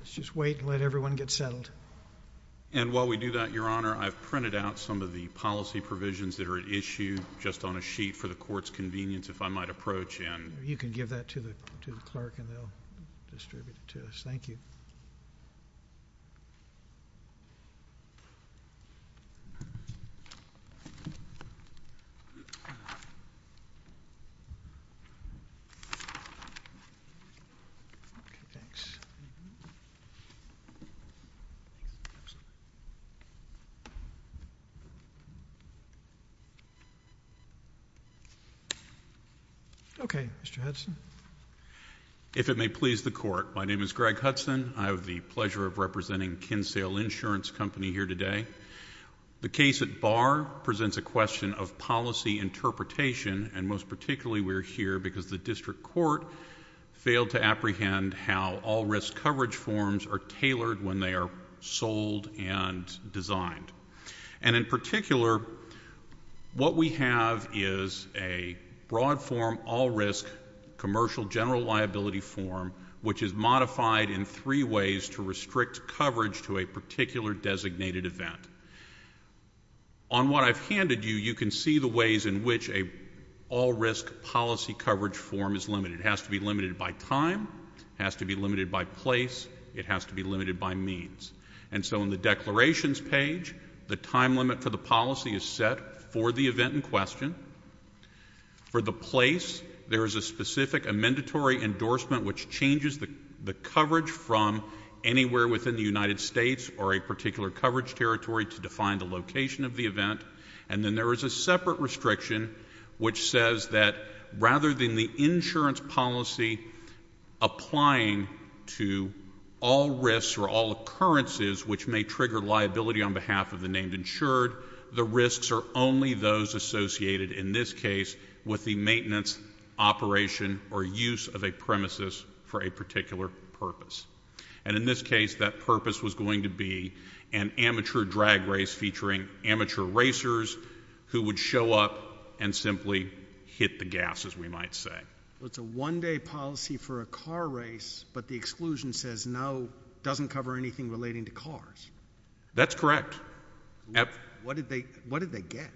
Let's just wait and let everyone get settled. And while we do that, Your Honor, I've printed out some of the policy provisions that are at issue just on a sheet for the Court's convenience if I might approach and… You can give that to the clerk and they'll distribute it to us. Thank you. Okay. Thanks. Okay. Okay, Mr. Hudson. If it may please the Court, my name is Greg Hudson. I have the pleasure of representing Kinsale Insurance Company here today. The case at Barr presents a question of policy interpretation and most particularly we're here because the District Court failed to apprehend how all risk coverage forms are tailored when they are sold and designed. And in particular, what we have is a broad form all risk commercial general liability form which is modified in three ways to restrict coverage to a particular designated event. On what I've handed you, you can see the ways in which an all risk policy coverage form is limited. It has to be limited by time, has to be limited by place, it has to be limited by means. And so in the declarations page, the time limit for the policy is set for the event in question. For the place, there is a specific amendatory endorsement which changes the coverage from anywhere within the United States or a particular coverage territory to define the location of the event. And then there is a separate restriction which says that rather than the insurance policy applying to all risks or all occurrences which may trigger liability on behalf of the named insured, the risks are only those associated in this case with the maintenance, operation or use of a premises for a particular purpose. And in this case, that purpose was going to be an amateur drag race featuring amateur racers who would show up and simply hit the gas as we might say. It's a one day policy for a car race but the exclusion says no, doesn't cover anything relating to cars. That's correct. What did they get?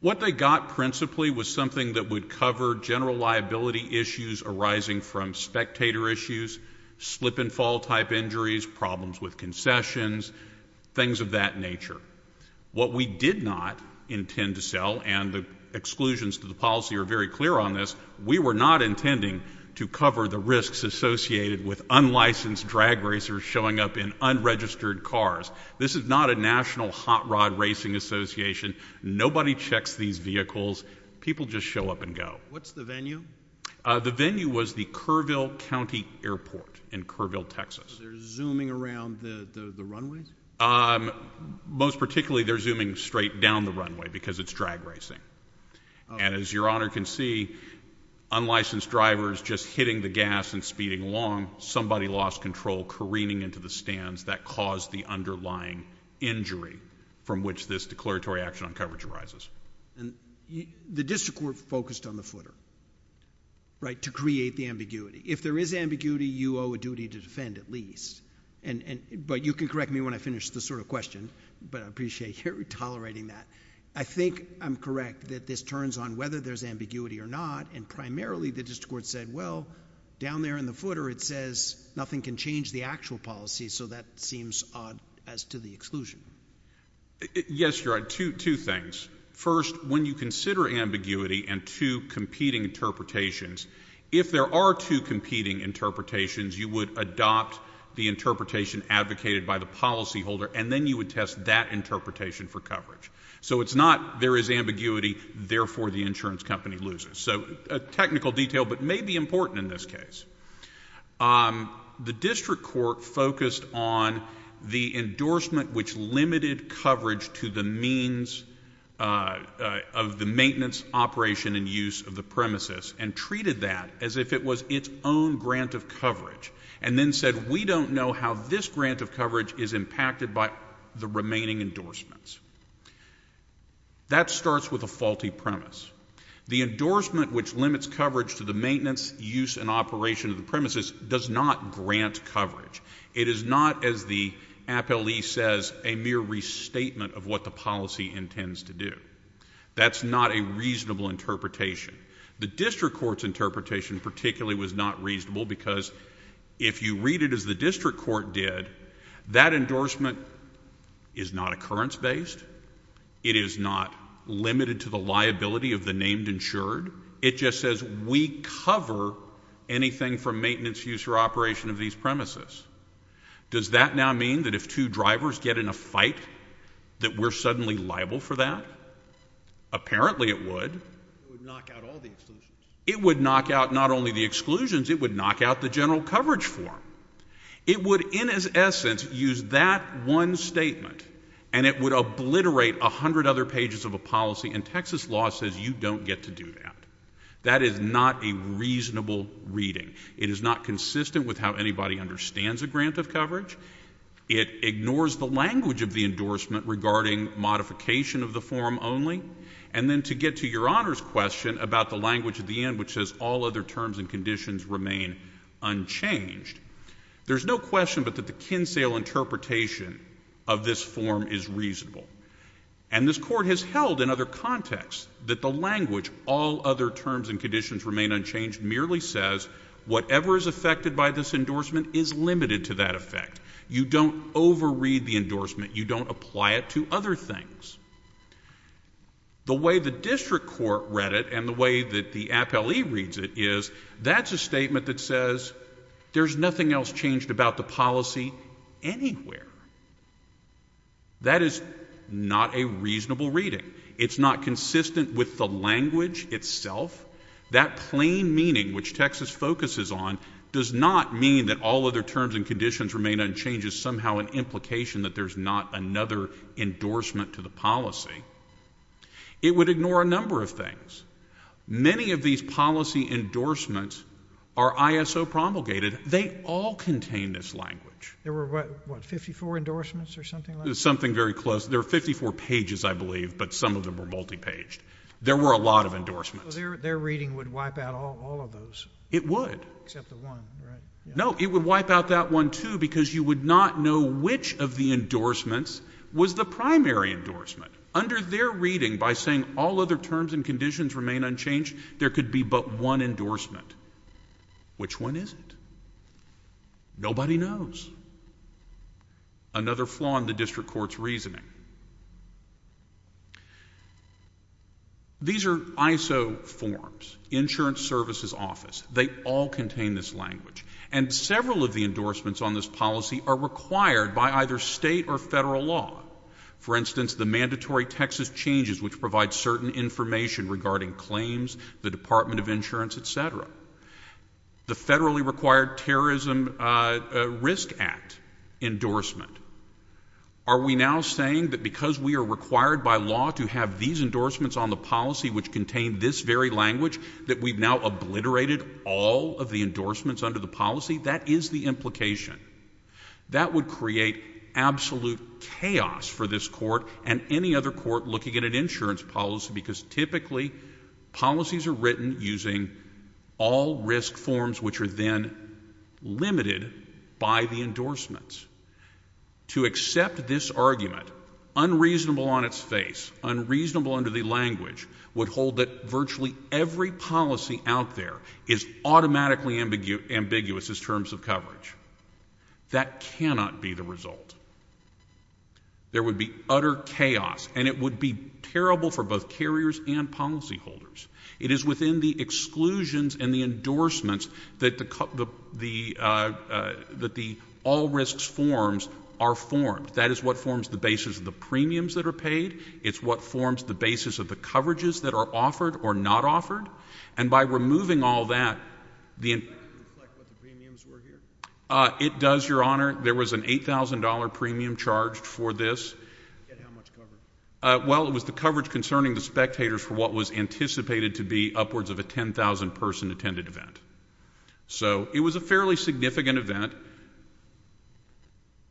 What they got principally was something that would cover general liability issues arising from spectator issues, slip and fall type injuries, problems with concessions, things of that nature. What we did not intend to sell and the exclusions to the policy are very clear on this, we were not intending to cover the risks associated with unlicensed drag racers showing up in unregistered cars. This is not a national hot rod racing association, nobody checks these vehicles, people just show up and go. What's the venue? The venue was the Kerrville County Airport in Kerrville, Texas. So they're zooming around the runways? Most particularly they're zooming straight down the runway because it's drag racing. And as your Honor can see, unlicensed drivers just hitting the gas and speeding along, somebody lost control careening into the stands that caused the underlying injury from which this declaratory action on coverage arises. The district court focused on the footer, right, to create the ambiguity. If there is ambiguity, you owe a duty to defend at least, but you can correct me when I finish this sort of question, but I appreciate your tolerating that. I think I'm correct that this turns on whether there's ambiguity or not, and primarily the district court said, well, down there in the footer it says nothing can change the actual policy, so that seems odd as to the exclusion. Yes, Your Honor, two things. First, when you consider ambiguity and two competing interpretations, if there are two competing interpretations, you would adopt the interpretation advocated by the policyholder and then you would test that interpretation for coverage. So it's not there is ambiguity, therefore the insurance company loses. So a technical detail, but maybe important in this case. The district court focused on the endorsement which limited coverage to the means of the maintenance, operation, and use of the premises and treated that as if it was its own grant of coverage, and then said, we don't know how this grant of coverage is impacted by the remaining endorsements. That starts with a faulty premise. The endorsement which limits coverage to the maintenance, use, and operation of the premises does not grant coverage. It is not, as the appellee says, a mere restatement of what the policy intends to do. That's not a reasonable interpretation. The district court's interpretation particularly was not reasonable because if you read it as the district court did, that endorsement is not occurrence-based, it is not limited to the liability of the named insured. It just says we cover anything from maintenance, use, or operation of these premises. Does that now mean that if two drivers get in a fight that we're suddenly liable for that? Apparently it would. It would knock out not only the exclusions, it would knock out the general coverage form. It would, in its essence, use that one statement and it would obliterate a hundred other pages of a policy and Texas law says you don't get to do that. That is not a reasonable reading. It is not consistent with how anybody understands a grant of coverage. It ignores the language of the endorsement regarding modification of the form only. And then to get to Your Honor's question about the language at the end which says all other terms and conditions remain unchanged, there's no question but that the Kinsale interpretation of this form is reasonable. And this court has held in other contexts that the language, all other terms and conditions remain unchanged, merely says whatever is affected by this endorsement is limited to that effect. You don't overread the endorsement. You don't apply it to other things. The way the district court read it and the way that the appellee reads it is that's a statement that says there's nothing else changed about the policy anywhere. That is not a reasonable reading. It's not consistent with the language itself. That plain meaning which Texas focuses on does not mean that all other terms and conditions remain unchanged is somehow an implication that there's not another endorsement to the policy. It would ignore a number of things. Many of these policy endorsements are ISO promulgated. They all contain this language. There were what, 54 endorsements or something like that? Something very close. There were 54 pages I believe, but some of them were multi-paged. There were a lot of endorsements. So their reading would wipe out all of those? It would. Except the one, right? No, it would wipe out that one too because you would not know which of the endorsements was the primary endorsement. Under their reading, by saying all other terms and conditions remain unchanged, there could be but one endorsement. Which one is it? Nobody knows. Another flaw in the district court's reasoning. These are ISO forms, Insurance Services Office. They all contain this language. And several of the endorsements on this policy are required by either state or federal law. For instance, the mandatory Texas changes which provide certain information regarding claims, the Department of Insurance, et cetera. The federally required Terrorism Risk Act endorsement. Are we now saying that because we are required by law to have these endorsements on the policy which contain this very language, that we've now obliterated all of the endorsements under the policy? That is the implication. That would create absolute chaos for this court and any other court looking at an insurance policy because typically, policies are written using all risk forms which are then limited by the endorsements. To accept this argument, unreasonable on its face, unreasonable under the language, would hold that virtually every policy out there is automatically ambiguous as terms of coverage. That cannot be the result. There would be utter chaos and it would be terrible for both carriers and policyholders. It is within the exclusions and the endorsements that the all risks forms are formed. That is what forms the basis of the premiums that are paid. It's what forms the basis of the coverages that are offered or not offered. And by removing all that, it does, Your Honor, there was an $8,000 premium charged for this. Well, it was the coverage concerning the spectators for what was anticipated to be upwards of a 10,000 person attended event. So it was a fairly significant event,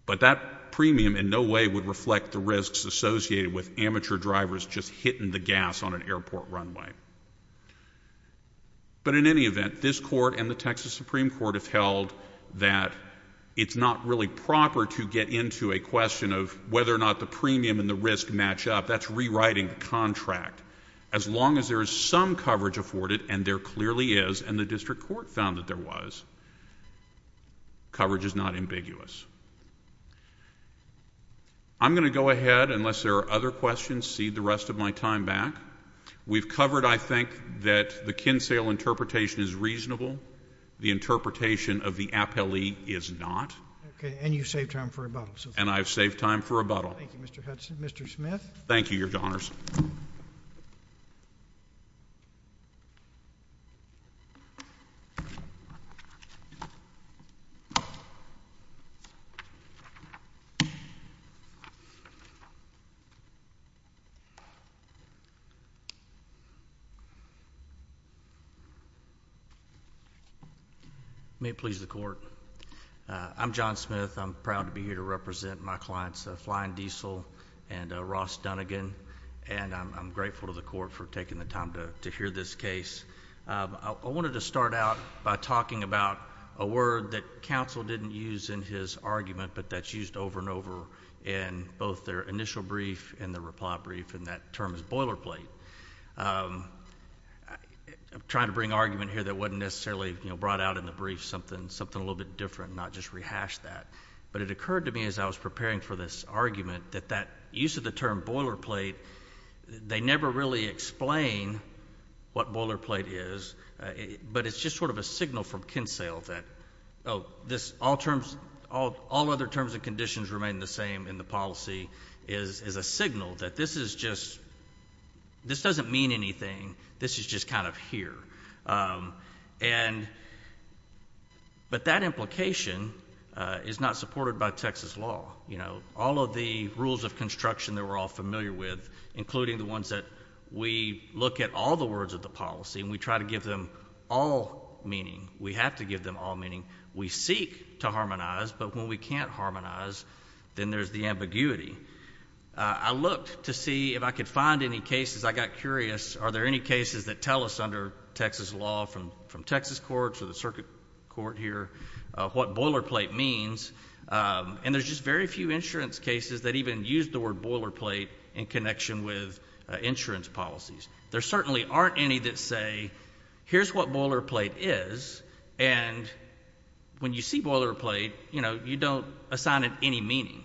but that premium in no way would reflect the risks associated with amateur drivers just hitting the gas on an airport runway. But in any event, this court and the Texas Supreme Court have held that it's not really a premium and the risks match up. That's rewriting the contract. As long as there is some coverage afforded, and there clearly is, and the district court found that there was, coverage is not ambiguous. I'm going to go ahead, unless there are other questions, cede the rest of my time back. We've covered, I think, that the Kinsale interpretation is reasonable. The interpretation of the Appellee is not. Okay. And I've saved time for rebuttal. Thank you, Mr. Hudson. Mr. Smith. Thank you, Your Honors. May it please the court. I'm John Smith. I'm proud to be here to represent my clients, Flying Diesel and Ross Dunnigan. And I'm grateful to the court for taking the time to hear this case. I wanted to start out by talking about a word that counsel didn't use in his argument, but that's used over and over in both their initial brief and the reply brief, and that term is boilerplate. I'm trying to bring an argument here that wasn't necessarily brought out in the brief, something a little bit different, not just rehash that. But it occurred to me as I was preparing for this argument that that use of the term boilerplate, they never really explain what boilerplate is, but it's just sort of a signal from Kinsale that, oh, all other terms and conditions remain the same in the policy, is a signal that this is just, this doesn't mean anything, this is just kind of here. And, but that implication is not supported by Texas law. You know, all of the rules of construction that we're all familiar with, including the ones that we look at all the words of the policy and we try to give them all meaning, we have to give them all meaning, we seek to harmonize, but when we can't harmonize, then there's the ambiguity. I looked to see if I could find any cases, I got curious, are there any cases that tell us under Texas law from Texas courts or the circuit court here, what boilerplate means, and there's just very few insurance cases that even use the word boilerplate in connection with insurance policies. There certainly aren't any that say, here's what boilerplate is, and when you see boilerplate, you know, you don't assign it any meaning.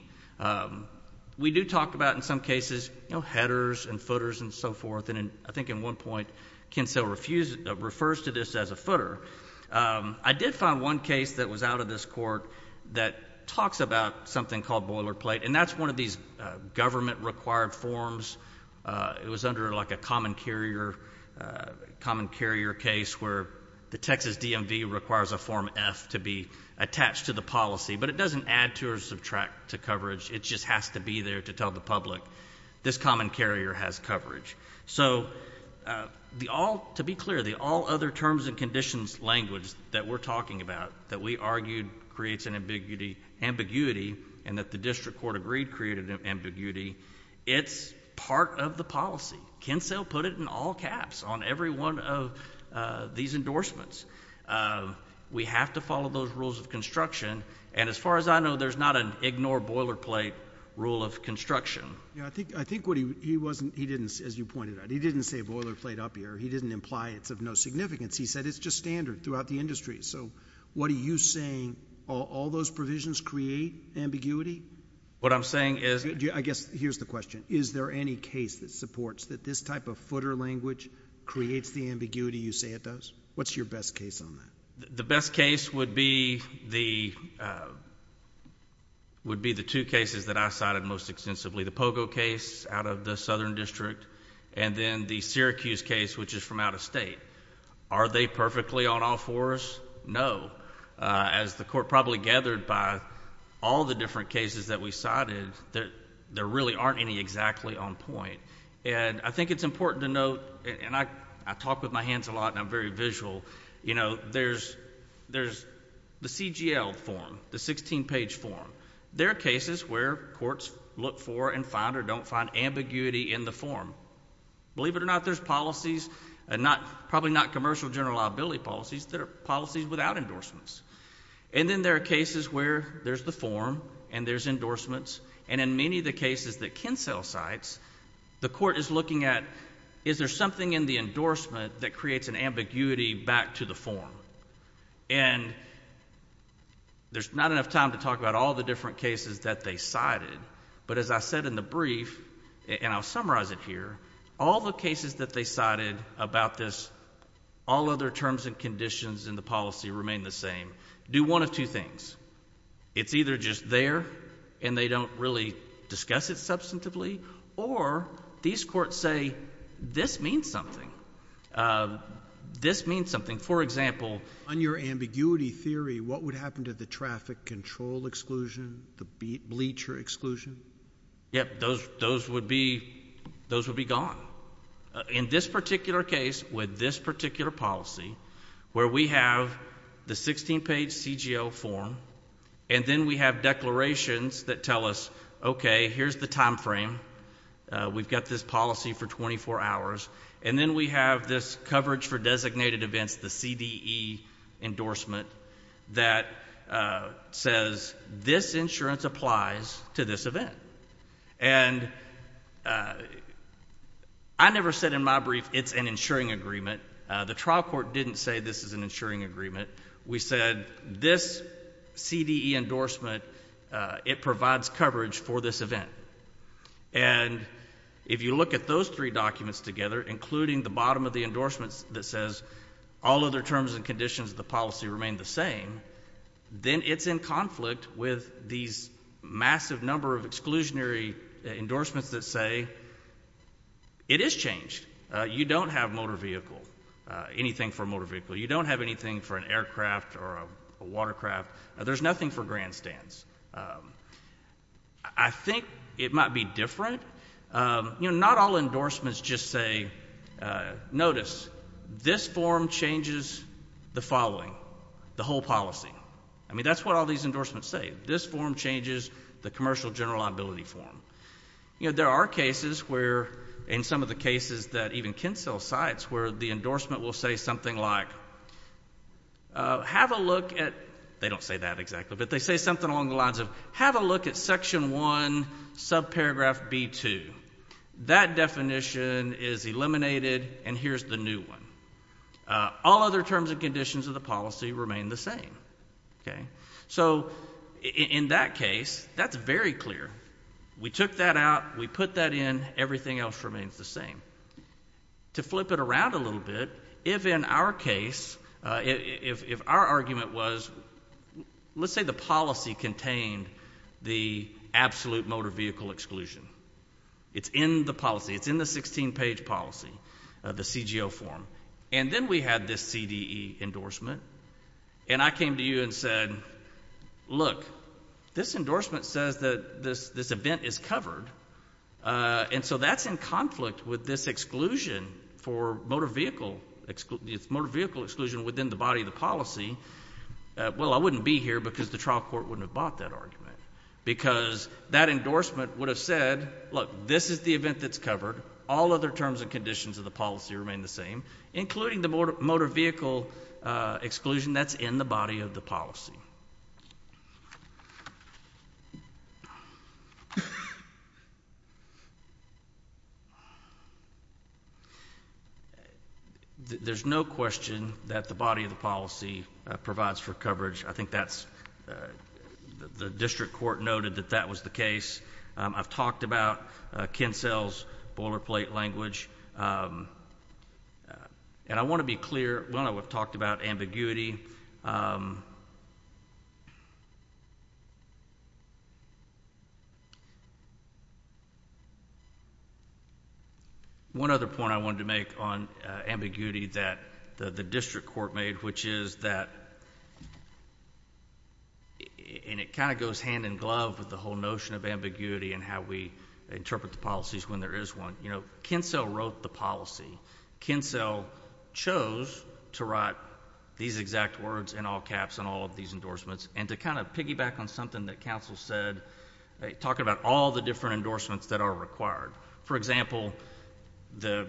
We do talk about in some cases, you know, headers and footers and so forth, and I think in one point, Kinsella refers to this as a footer. I did find one case that was out of this court that talks about something called boilerplate, and that's one of these government required forms, it was under like a common carrier case where the Texas DMV requires a form F to be attached to the policy, but it doesn't add to or subtract to coverage, it just has to be there to tell the public, this common carrier has coverage. So to be clear, the all other terms and conditions language that we're talking about, that we argued creates an ambiguity, and that the district court agreed created an ambiguity, it's part of the policy. Kinsella put it in all caps on every one of these endorsements. We have to follow those rules of construction, and as far as I know, there's not an ignore boilerplate rule of construction. Yeah, I think what he wasn't, he didn't, as you pointed out, he didn't say boilerplate up here, he didn't imply it's of no significance, he said it's just standard throughout the industry, so what are you saying, all those provisions create ambiguity? What I'm saying is I guess, here's the question, is there any case that supports that this type of footer language creates the ambiguity you say it does? What's your best case on that? The best case would be the two cases that I cited most extensively, the Pogo case out of the southern district, and then the Syracuse case, which is from out of state. Are they perfectly on all fours? No. As the court probably gathered by all the different cases that we cited, there really aren't any exactly on point. I think it's important to note, and I talk with my hands a lot, and I'm very visual, you know, there's the CGL form, the 16-page form, there are cases where courts look for and find or don't find ambiguity in the form. Believe it or not, there's policies, probably not commercial general liability policies, there are policies without endorsements, and then there are cases where there's the form and there's endorsements, and in many of the cases that can sell sites, the court is looking at, is there something in the endorsement that creates an ambiguity back to the form? And there's not enough time to talk about all the different cases that they cited, but as I said in the brief, and I'll summarize it here, all the cases that they cited about this, all other terms and conditions in the policy remain the same, do one of two things. It's either just there, and they don't really discuss it substantively, or these courts say, this means something. This means something. For example. On your ambiguity theory, what would happen to the traffic control exclusion, the bleacher exclusion? Yep, those would be gone. In this particular case, with this particular policy, where we have the 16-page CGL form, and then we have declarations that tell us, okay, here's the time frame, we've got this policy for 24 hours, and then we have this coverage for designated events, the CDE endorsement, that says, this insurance applies to this event. And I never said in my brief, it's an insuring agreement. The trial court didn't say this is an insuring agreement. We said, this CDE endorsement, it provides coverage for this event. And if you look at those three documents together, including the bottom of the endorsements that says all other terms and conditions of the policy remain the same, then it's in conflict with these massive number of exclusionary endorsements that say, it is changed. You don't have motor vehicle, anything for a motor vehicle. You don't have anything for an aircraft or a watercraft. There's nothing for grandstands. I think it might be different. Not all endorsements just say, notice, this form changes the following, the whole policy. I mean, that's what all these endorsements say. This form changes the commercial general liability form. There are cases where, in some of the cases that even Kinsell cites, where the endorsement will say something like, have a look at, they don't say that exactly, but they say something along the lines of, have a look at section 1, subparagraph B2. That definition is eliminated, and here's the new one. All other terms and conditions of the policy remain the same. So in that case, that's very clear. We took that out. We put that in. Everything else remains the same. To flip it around a little bit, if in our case, if our argument was, let's say the policy contained the absolute motor vehicle exclusion. It's in the policy. It's in the 16-page policy, the CGO form, and then we had this CDE endorsement, and I came to you and said, look, this endorsement says that this event is covered, and so that's in conflict with this exclusion for motor vehicle exclusion within the body of the policy. Well, I wouldn't be here, because the trial court wouldn't have bought that argument, because that endorsement would have said, look, this is the event that's covered. All other terms and conditions of the policy remain the same, including the motor vehicle exclusion that's in the body of the policy. Next slide, please. There's no question that the body of the policy provides for coverage. I think that's... the district court noted that that was the case. I've talked about Kinsell's boilerplate language, and I want to be clear. One, I would have talked about ambiguity. One other point I wanted to make on ambiguity that the district court made, which is that, and it kind of goes hand in glove with the whole notion of ambiguity and how we interpret the policies when there is one. Kinsell wrote the policy. Kinsell chose to write these exact words in all caps on all of these endorsements, and to kind of piggyback on something that counsel said, talking about all the different endorsements that are required. For example, the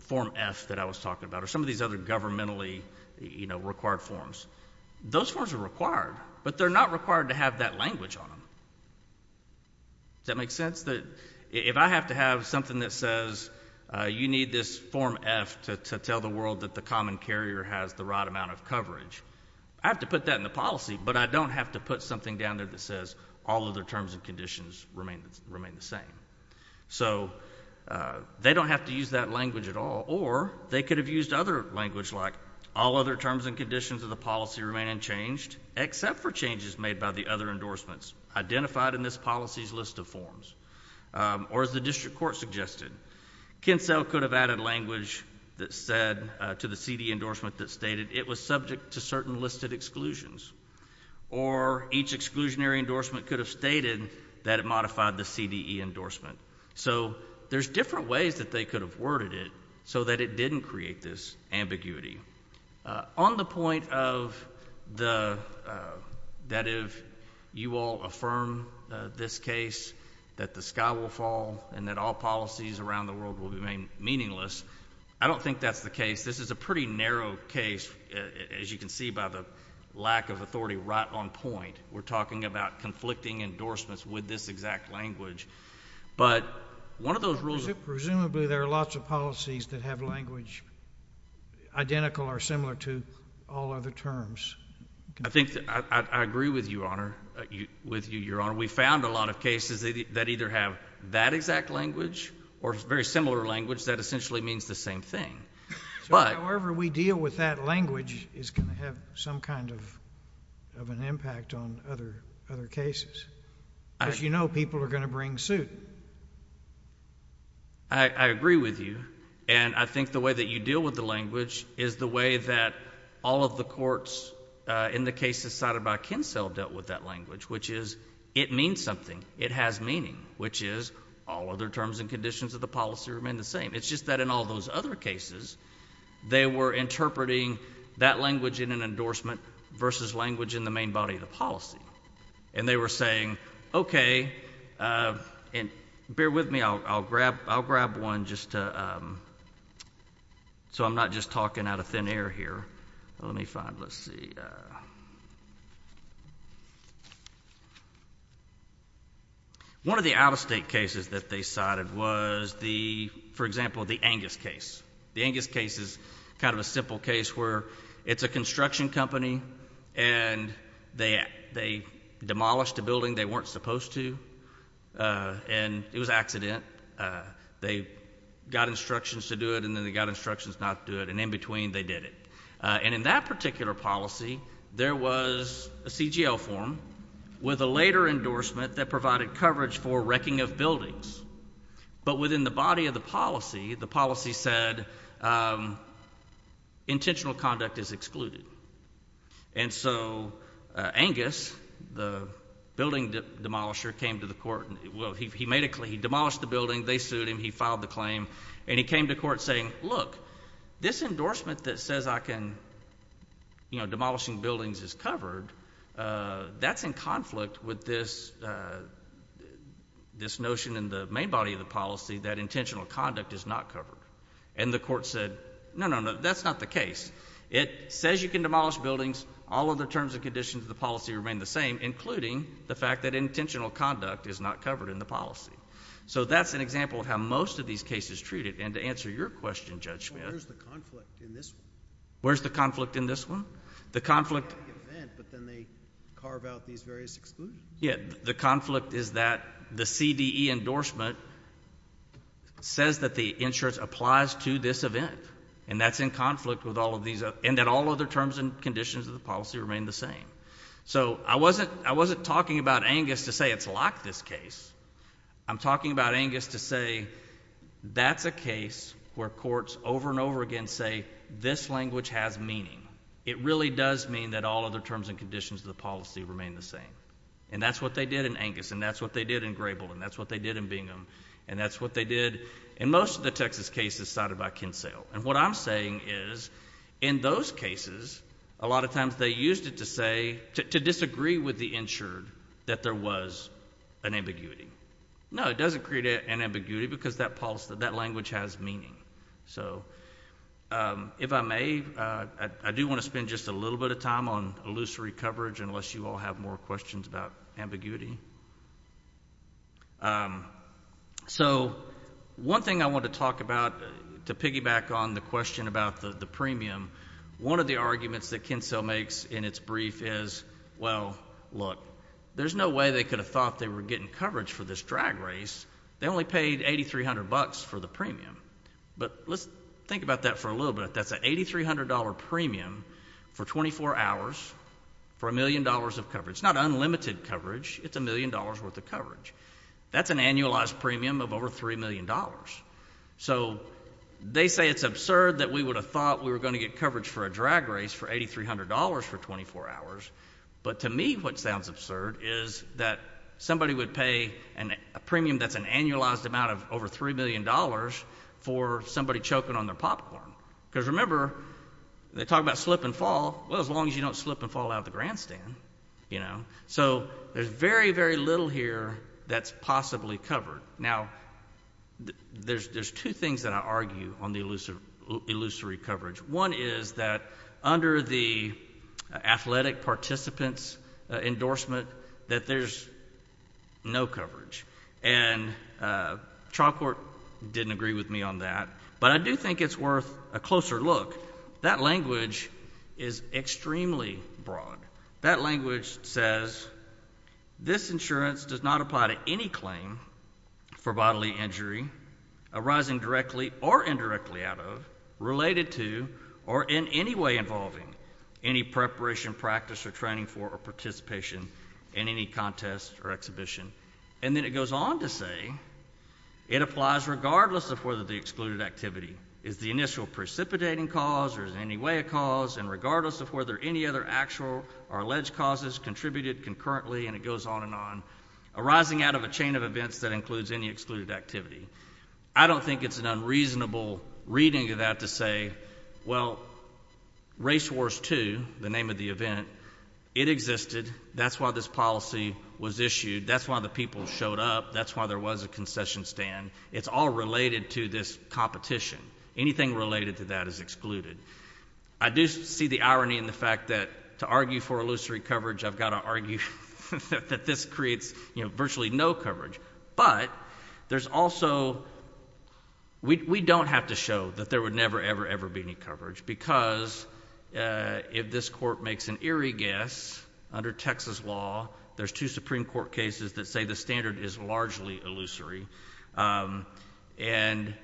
Form F that I was talking about, or some of these other governmentally required forms, those forms are required, but they're not required to have that language on them. Does that make sense? If I have to have something that says, you need this Form F to tell the world that the common carrier has the right amount of coverage, I have to put that in the policy, but I don't have to put something down there that says all other terms and conditions remain the same. So they don't have to use that language at all, or they could have used other language, like all other terms and conditions of the policy remain unchanged, except for changes made by the other endorsements identified in this policy's list of forms, or as the district court suggested, Kinsell could have added language that said, to the CDE endorsement that stated, it was subject to certain listed exclusions, or each exclusionary endorsement could have stated that it modified the CDE endorsement. So there's different ways that they could have worded it so that it didn't create this ambiguity. On the point of the, that if you all affirm this case, that the sky will fall and that all policies around the world will remain meaningless, I don't think that's the case. This is a pretty narrow case, as you can see by the lack of authority right on point. We're talking about conflicting endorsements with this exact language. But one of those rules...... I think I agree with you, Your Honor. We found a lot of cases that either have that exact language or very similar language that essentially means the same thing. But... However we deal with that language is going to have some kind of an impact on other cases. As you know, people are going to bring suit. I agree with you. And I think the way that you deal with the language is the way that all of the courts in the cases cited by Kinsel dealt with that language, which is it means something. It has meaning, which is all other terms and conditions of the policy remain the same. It's just that in all those other cases, they were interpreting that language in an endorsement versus language in the main body of the policy. And they were saying, okay... and bear with me, I'll grab one just to... so I'm not just talking out of thin air here. Let me find... let's see. One of the out-of-state cases that they cited was the... for example, the Angus case. The Angus case is kind of a simple case where it's a construction company, and they demolished a building they weren't supposed to, and it was an accident. They got instructions to do it, and then they got instructions not to do it, and in between they did it. And in that particular policy, there was a CGL form with a later endorsement that provided coverage for wrecking of buildings. But within the body of the policy, the policy said, intentional conduct is excluded. And so, Angus, the building demolisher, came to the court... well, he made a... he demolished the building. They sued him. He filed the claim. And he came to court saying, look, this endorsement that says I can... you know, demolishing buildings is covered, that's in conflict with this... this notion in the main body of the policy that intentional conduct is not covered. And the court said, no, no, no, that's not the case. It says you can demolish buildings. All of the terms and conditions of the policy remain the same, including the fact that intentional conduct is not covered in the policy. So that's an example of how most of these cases treat it. And to answer your question, Judge Smith... Well, where's the conflict in this one? Where's the conflict in this one? The conflict... In the event, but then they carve out these various exclusions. Yeah. The conflict is that the CDE endorsement says that the insurance applies to this event. And that's in conflict with all of these... and that all other terms and conditions of the policy remain the same. So I wasn't talking about Angus to say it's like this case. I'm talking about Angus to say that's a case where courts over and over again say this language has meaning. It really does mean that all other terms and conditions of the policy remain the same. And that's what they did in Angus, and that's what they did in Grebel, and that's what they did in Bingham, and that's what they did in most of the Texas cases cited by Kinsell. And what I'm saying is in those cases, a lot of times they used it to say... to disagree with the insured that there was an ambiguity. No, it doesn't create an ambiguity because that language has meaning. So if I may, I do want to spend just a little bit of time on illusory coverage, unless you all have more questions about ambiguity. So one thing I want to talk about to piggyback on the question about the premium, one of the arguments that Kinsell makes in its brief is, well, look, there's no way they could have thought they were getting coverage for this drag race. They only paid $8,300 for the premium. But let's think about that for a little bit. That's an $8,300 premium for 24 hours for a million dollars of coverage. It's not unlimited coverage. It's a million dollars worth of coverage. That's an annualized premium of over $3 million. So they say it's absurd that we would have thought we were going to get coverage for a drag race for $8,300 for 24 hours. But to me, what sounds absurd is that somebody would pay a premium that's an annualized amount of over $3 million for somebody choking on their popcorn, because remember, they talk about slip and fall. Well, as long as you don't slip and fall out of the grandstand, you know. So there's very, very little here that's possibly covered. Now, there's two things that I argue on the illusory coverage. One is that under the athletic participant's endorsement, that there's no coverage. And trial court didn't agree with me on that. But I do think it's worth a closer look. That language is extremely broad. That language says, this insurance does not apply to any claim for bodily injury arising directly or indirectly out of, related to, or in any way involving any preparation, practice or training for or participation in any contest or exhibition. And then it goes on to say, it applies regardless of whether the excluded activity is the initial precipitating cause or is in any way a cause, and regardless of whether any other actual or alleged causes contributed concurrently, and it goes on and on, arising out of a chain of events that includes any excluded activity. I don't think it's an unreasonable reading of that to say, well, Race Wars 2, the name of the event, it existed. That's why this policy was issued. That's why the people showed up. That's why there was a concession stand. It's all related to this competition. Anything related to that is excluded. I do see the irony in the fact that to argue for illusory coverage, I've got to argue that this creates virtually no coverage. But there's also, we don't have to show that there would never, ever, ever be any coverage because if this court makes an eerie guess, under Texas law, there's two Supreme Court cases that say the standard is largely illusory, and,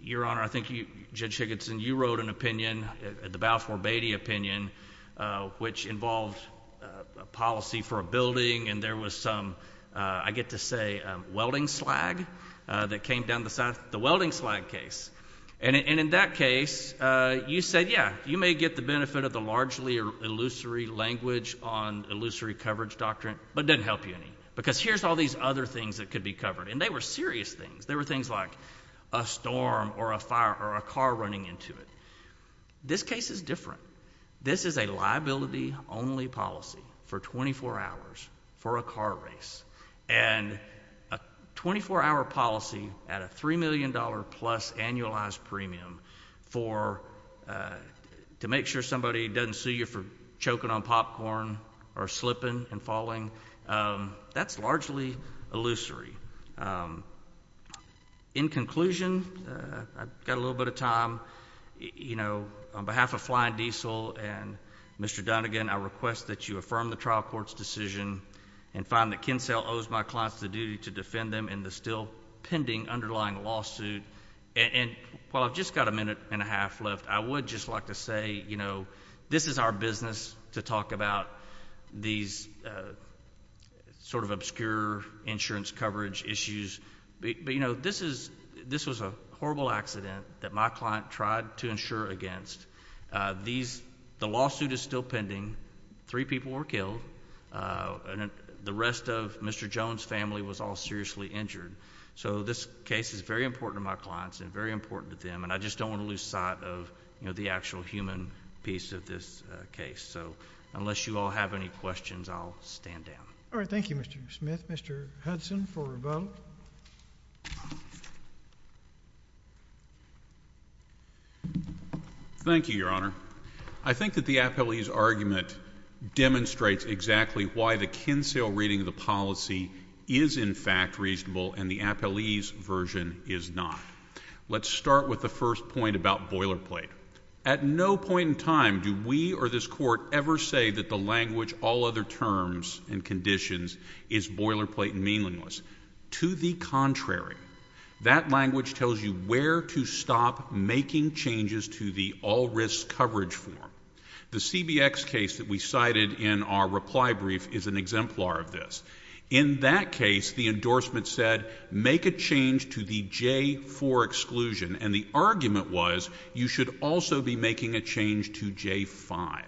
Your Honor, I think you, Judge Higginson, you wrote an opinion, the Balfour Beatty opinion, which involved a policy for a building, and there was some, I get to say, welding slag that came down the side, the welding slag case. And in that case, you said, yeah, you may get the benefit of the largely illusory language on illusory coverage doctrine, but it doesn't help you any, because here's all these other things that could be covered. And they were serious things. They were things like a storm, or a fire, or a car running into it. This case is different. This is a liability-only policy for 24 hours for a car race. And a 24-hour policy at a $3 million-plus annualized premium for, to make sure somebody doesn't sue you for choking on popcorn or slipping and falling. That's largely illusory. In conclusion, I've got a little bit of time. You know, on behalf of Flying Diesel and Mr. Donegan, I request that you affirm the trial court's decision and find that Kinsella owes my clients the duty to defend them in the still pending underlying lawsuit. And while I've just got a minute and a half left, I would just like to say, you know, this is our business to talk about these sort of obscure insurance coverage issues. But, you know, this was a horrible accident that my client tried to insure against. The lawsuit is still pending. Three people were killed. The rest of Mr. Jones' family was all seriously injured. So this case is very important to my clients and very important to them. And I just don't want to lose sight of, you know, the actual human piece of this case. So unless you all have any questions, I'll stand down. All right. Thank you, Mr. Smith. Mr. Hudson for rebuttal. Thank you, Your Honor. I think that the appellee's argument demonstrates exactly why the Kinsella reading of the policy is in fact reasonable and the appellee's version is not. Let's start with the first point about boilerplate. At no point in time do we or this Court ever say that the language, all other terms and conditions is boilerplate and meaningless. To the contrary. That language tells you where to stop making changes to the all risk coverage form. The CBX case that we cited in our reply brief is an exemplar of this. In that case, the endorsement said make a change to the J-4 exclusion and the argument was you should also be making a change to J-5.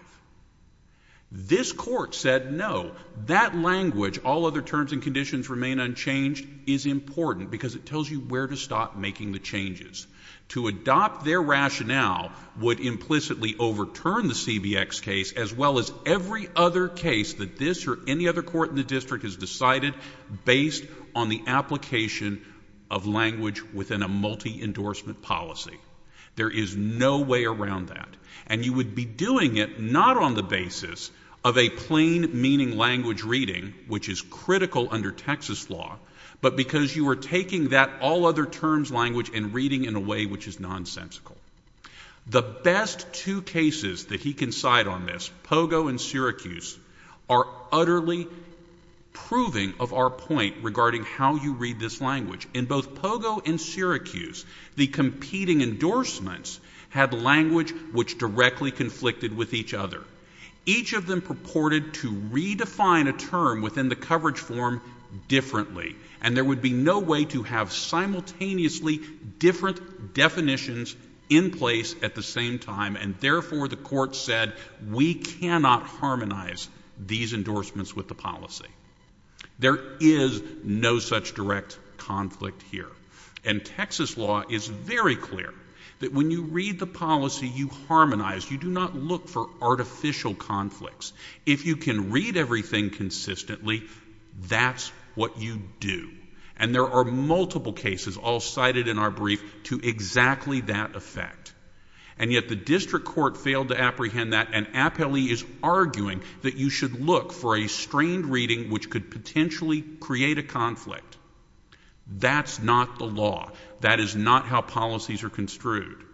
This Court said no. That language, all other terms and conditions remain unchanged is important because it tells you where to stop making the changes. To adopt their rationale would implicitly overturn the CBX case as well as every other case that this or any other court in the district has decided based on the application of language within a multi-endorsement policy. There is no way around that and you would be doing it not on the basis of a plain meaning language reading which is critical under Texas law but because you are taking that all other terms language and reading in a way which is nonsensical. The best two cases that he can cite on this, Pogo and Syracuse, are utterly proving of our point regarding how you read this language. In both Pogo and Syracuse, the competing endorsements had language which directly conflicted with each other. Each of them purported to redefine a term within the coverage form differently and there would be no way to have simultaneously different definitions in place at the same time and therefore the Court said we cannot harmonize these endorsements with the policy. There is no such direct conflict here. And Texas law is very clear that when you read the policy, you harmonize. You do not look for artificial conflicts. If you can read everything consistently, that's what you do. And there are multiple cases all cited in our brief to exactly that effect. And yet the District Court failed to apprehend that and Apelli is arguing that you should look for a strained reading which could potentially create a conflict. That's not the law. That is not how policies are construed.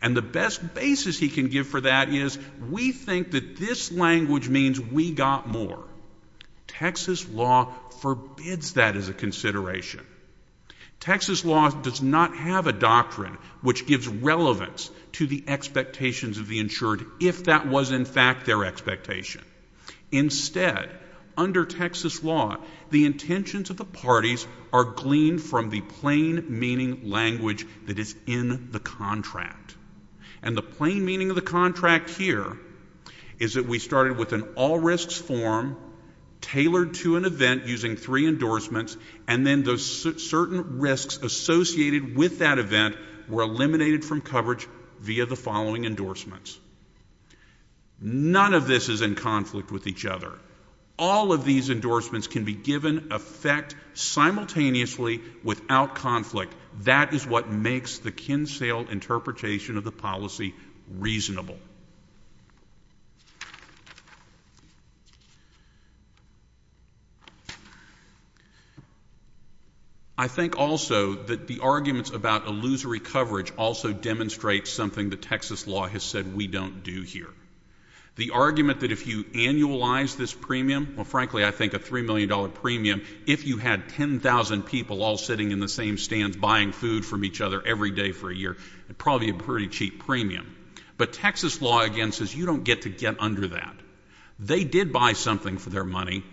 And the best basis he can give for that is we think that this language means we got more. Texas law forbids that as a consideration. Texas law does not have a doctrine which gives relevance to the expectations of the insured if that was in fact their expectation. Instead, under Texas law, the intentions of the parties are gleaned from the plain meaning language that is in the contract. And the plain meaning of the contract here is that we started with an all risks form tailored to an event using three endorsements and then those certain risks associated with that event were eliminated from coverage via the following endorsements. None of this is in conflict with each other. All of these endorsements can be given effect simultaneously without conflict. That is what makes the Kinsale interpretation of the policy reasonable. I think also that the arguments about illusory coverage also demonstrate something that Texas law has said we don't do here. The argument that if you annualize this premium, well, frankly, I think a $3 million premium, if you had 10,000 people all sitting in the same stands buying food from each other every day for a year, it would probably be a pretty cheap premium. But Texas law, again, says you don't get to get under that. They did buy something for their money.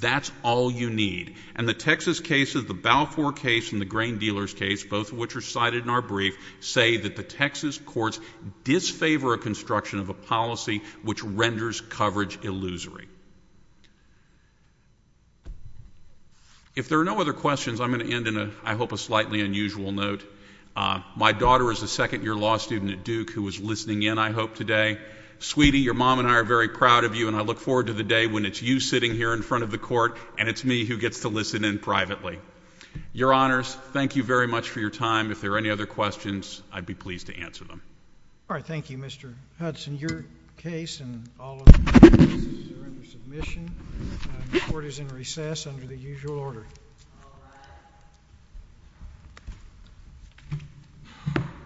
That's all you need. And the Texas cases, the Balfour case and the Grain Dealers case, both of which are If there are no other questions, I'm going to end in, I hope, a slightly unusual note. My daughter is a second-year law student at Duke who was listening in, I hope, today. Sweetie, your mom and I are very proud of you, and I look forward to the day when it's you sitting here in front of the court and it's me who gets to listen in privately. Your Honors, thank you very much for your time. If there are any other questions, I'd be pleased to answer them. All right. Thank you, Mr. Hudson. In your case, and all of your cases here under submission, the court is in recess under the usual order.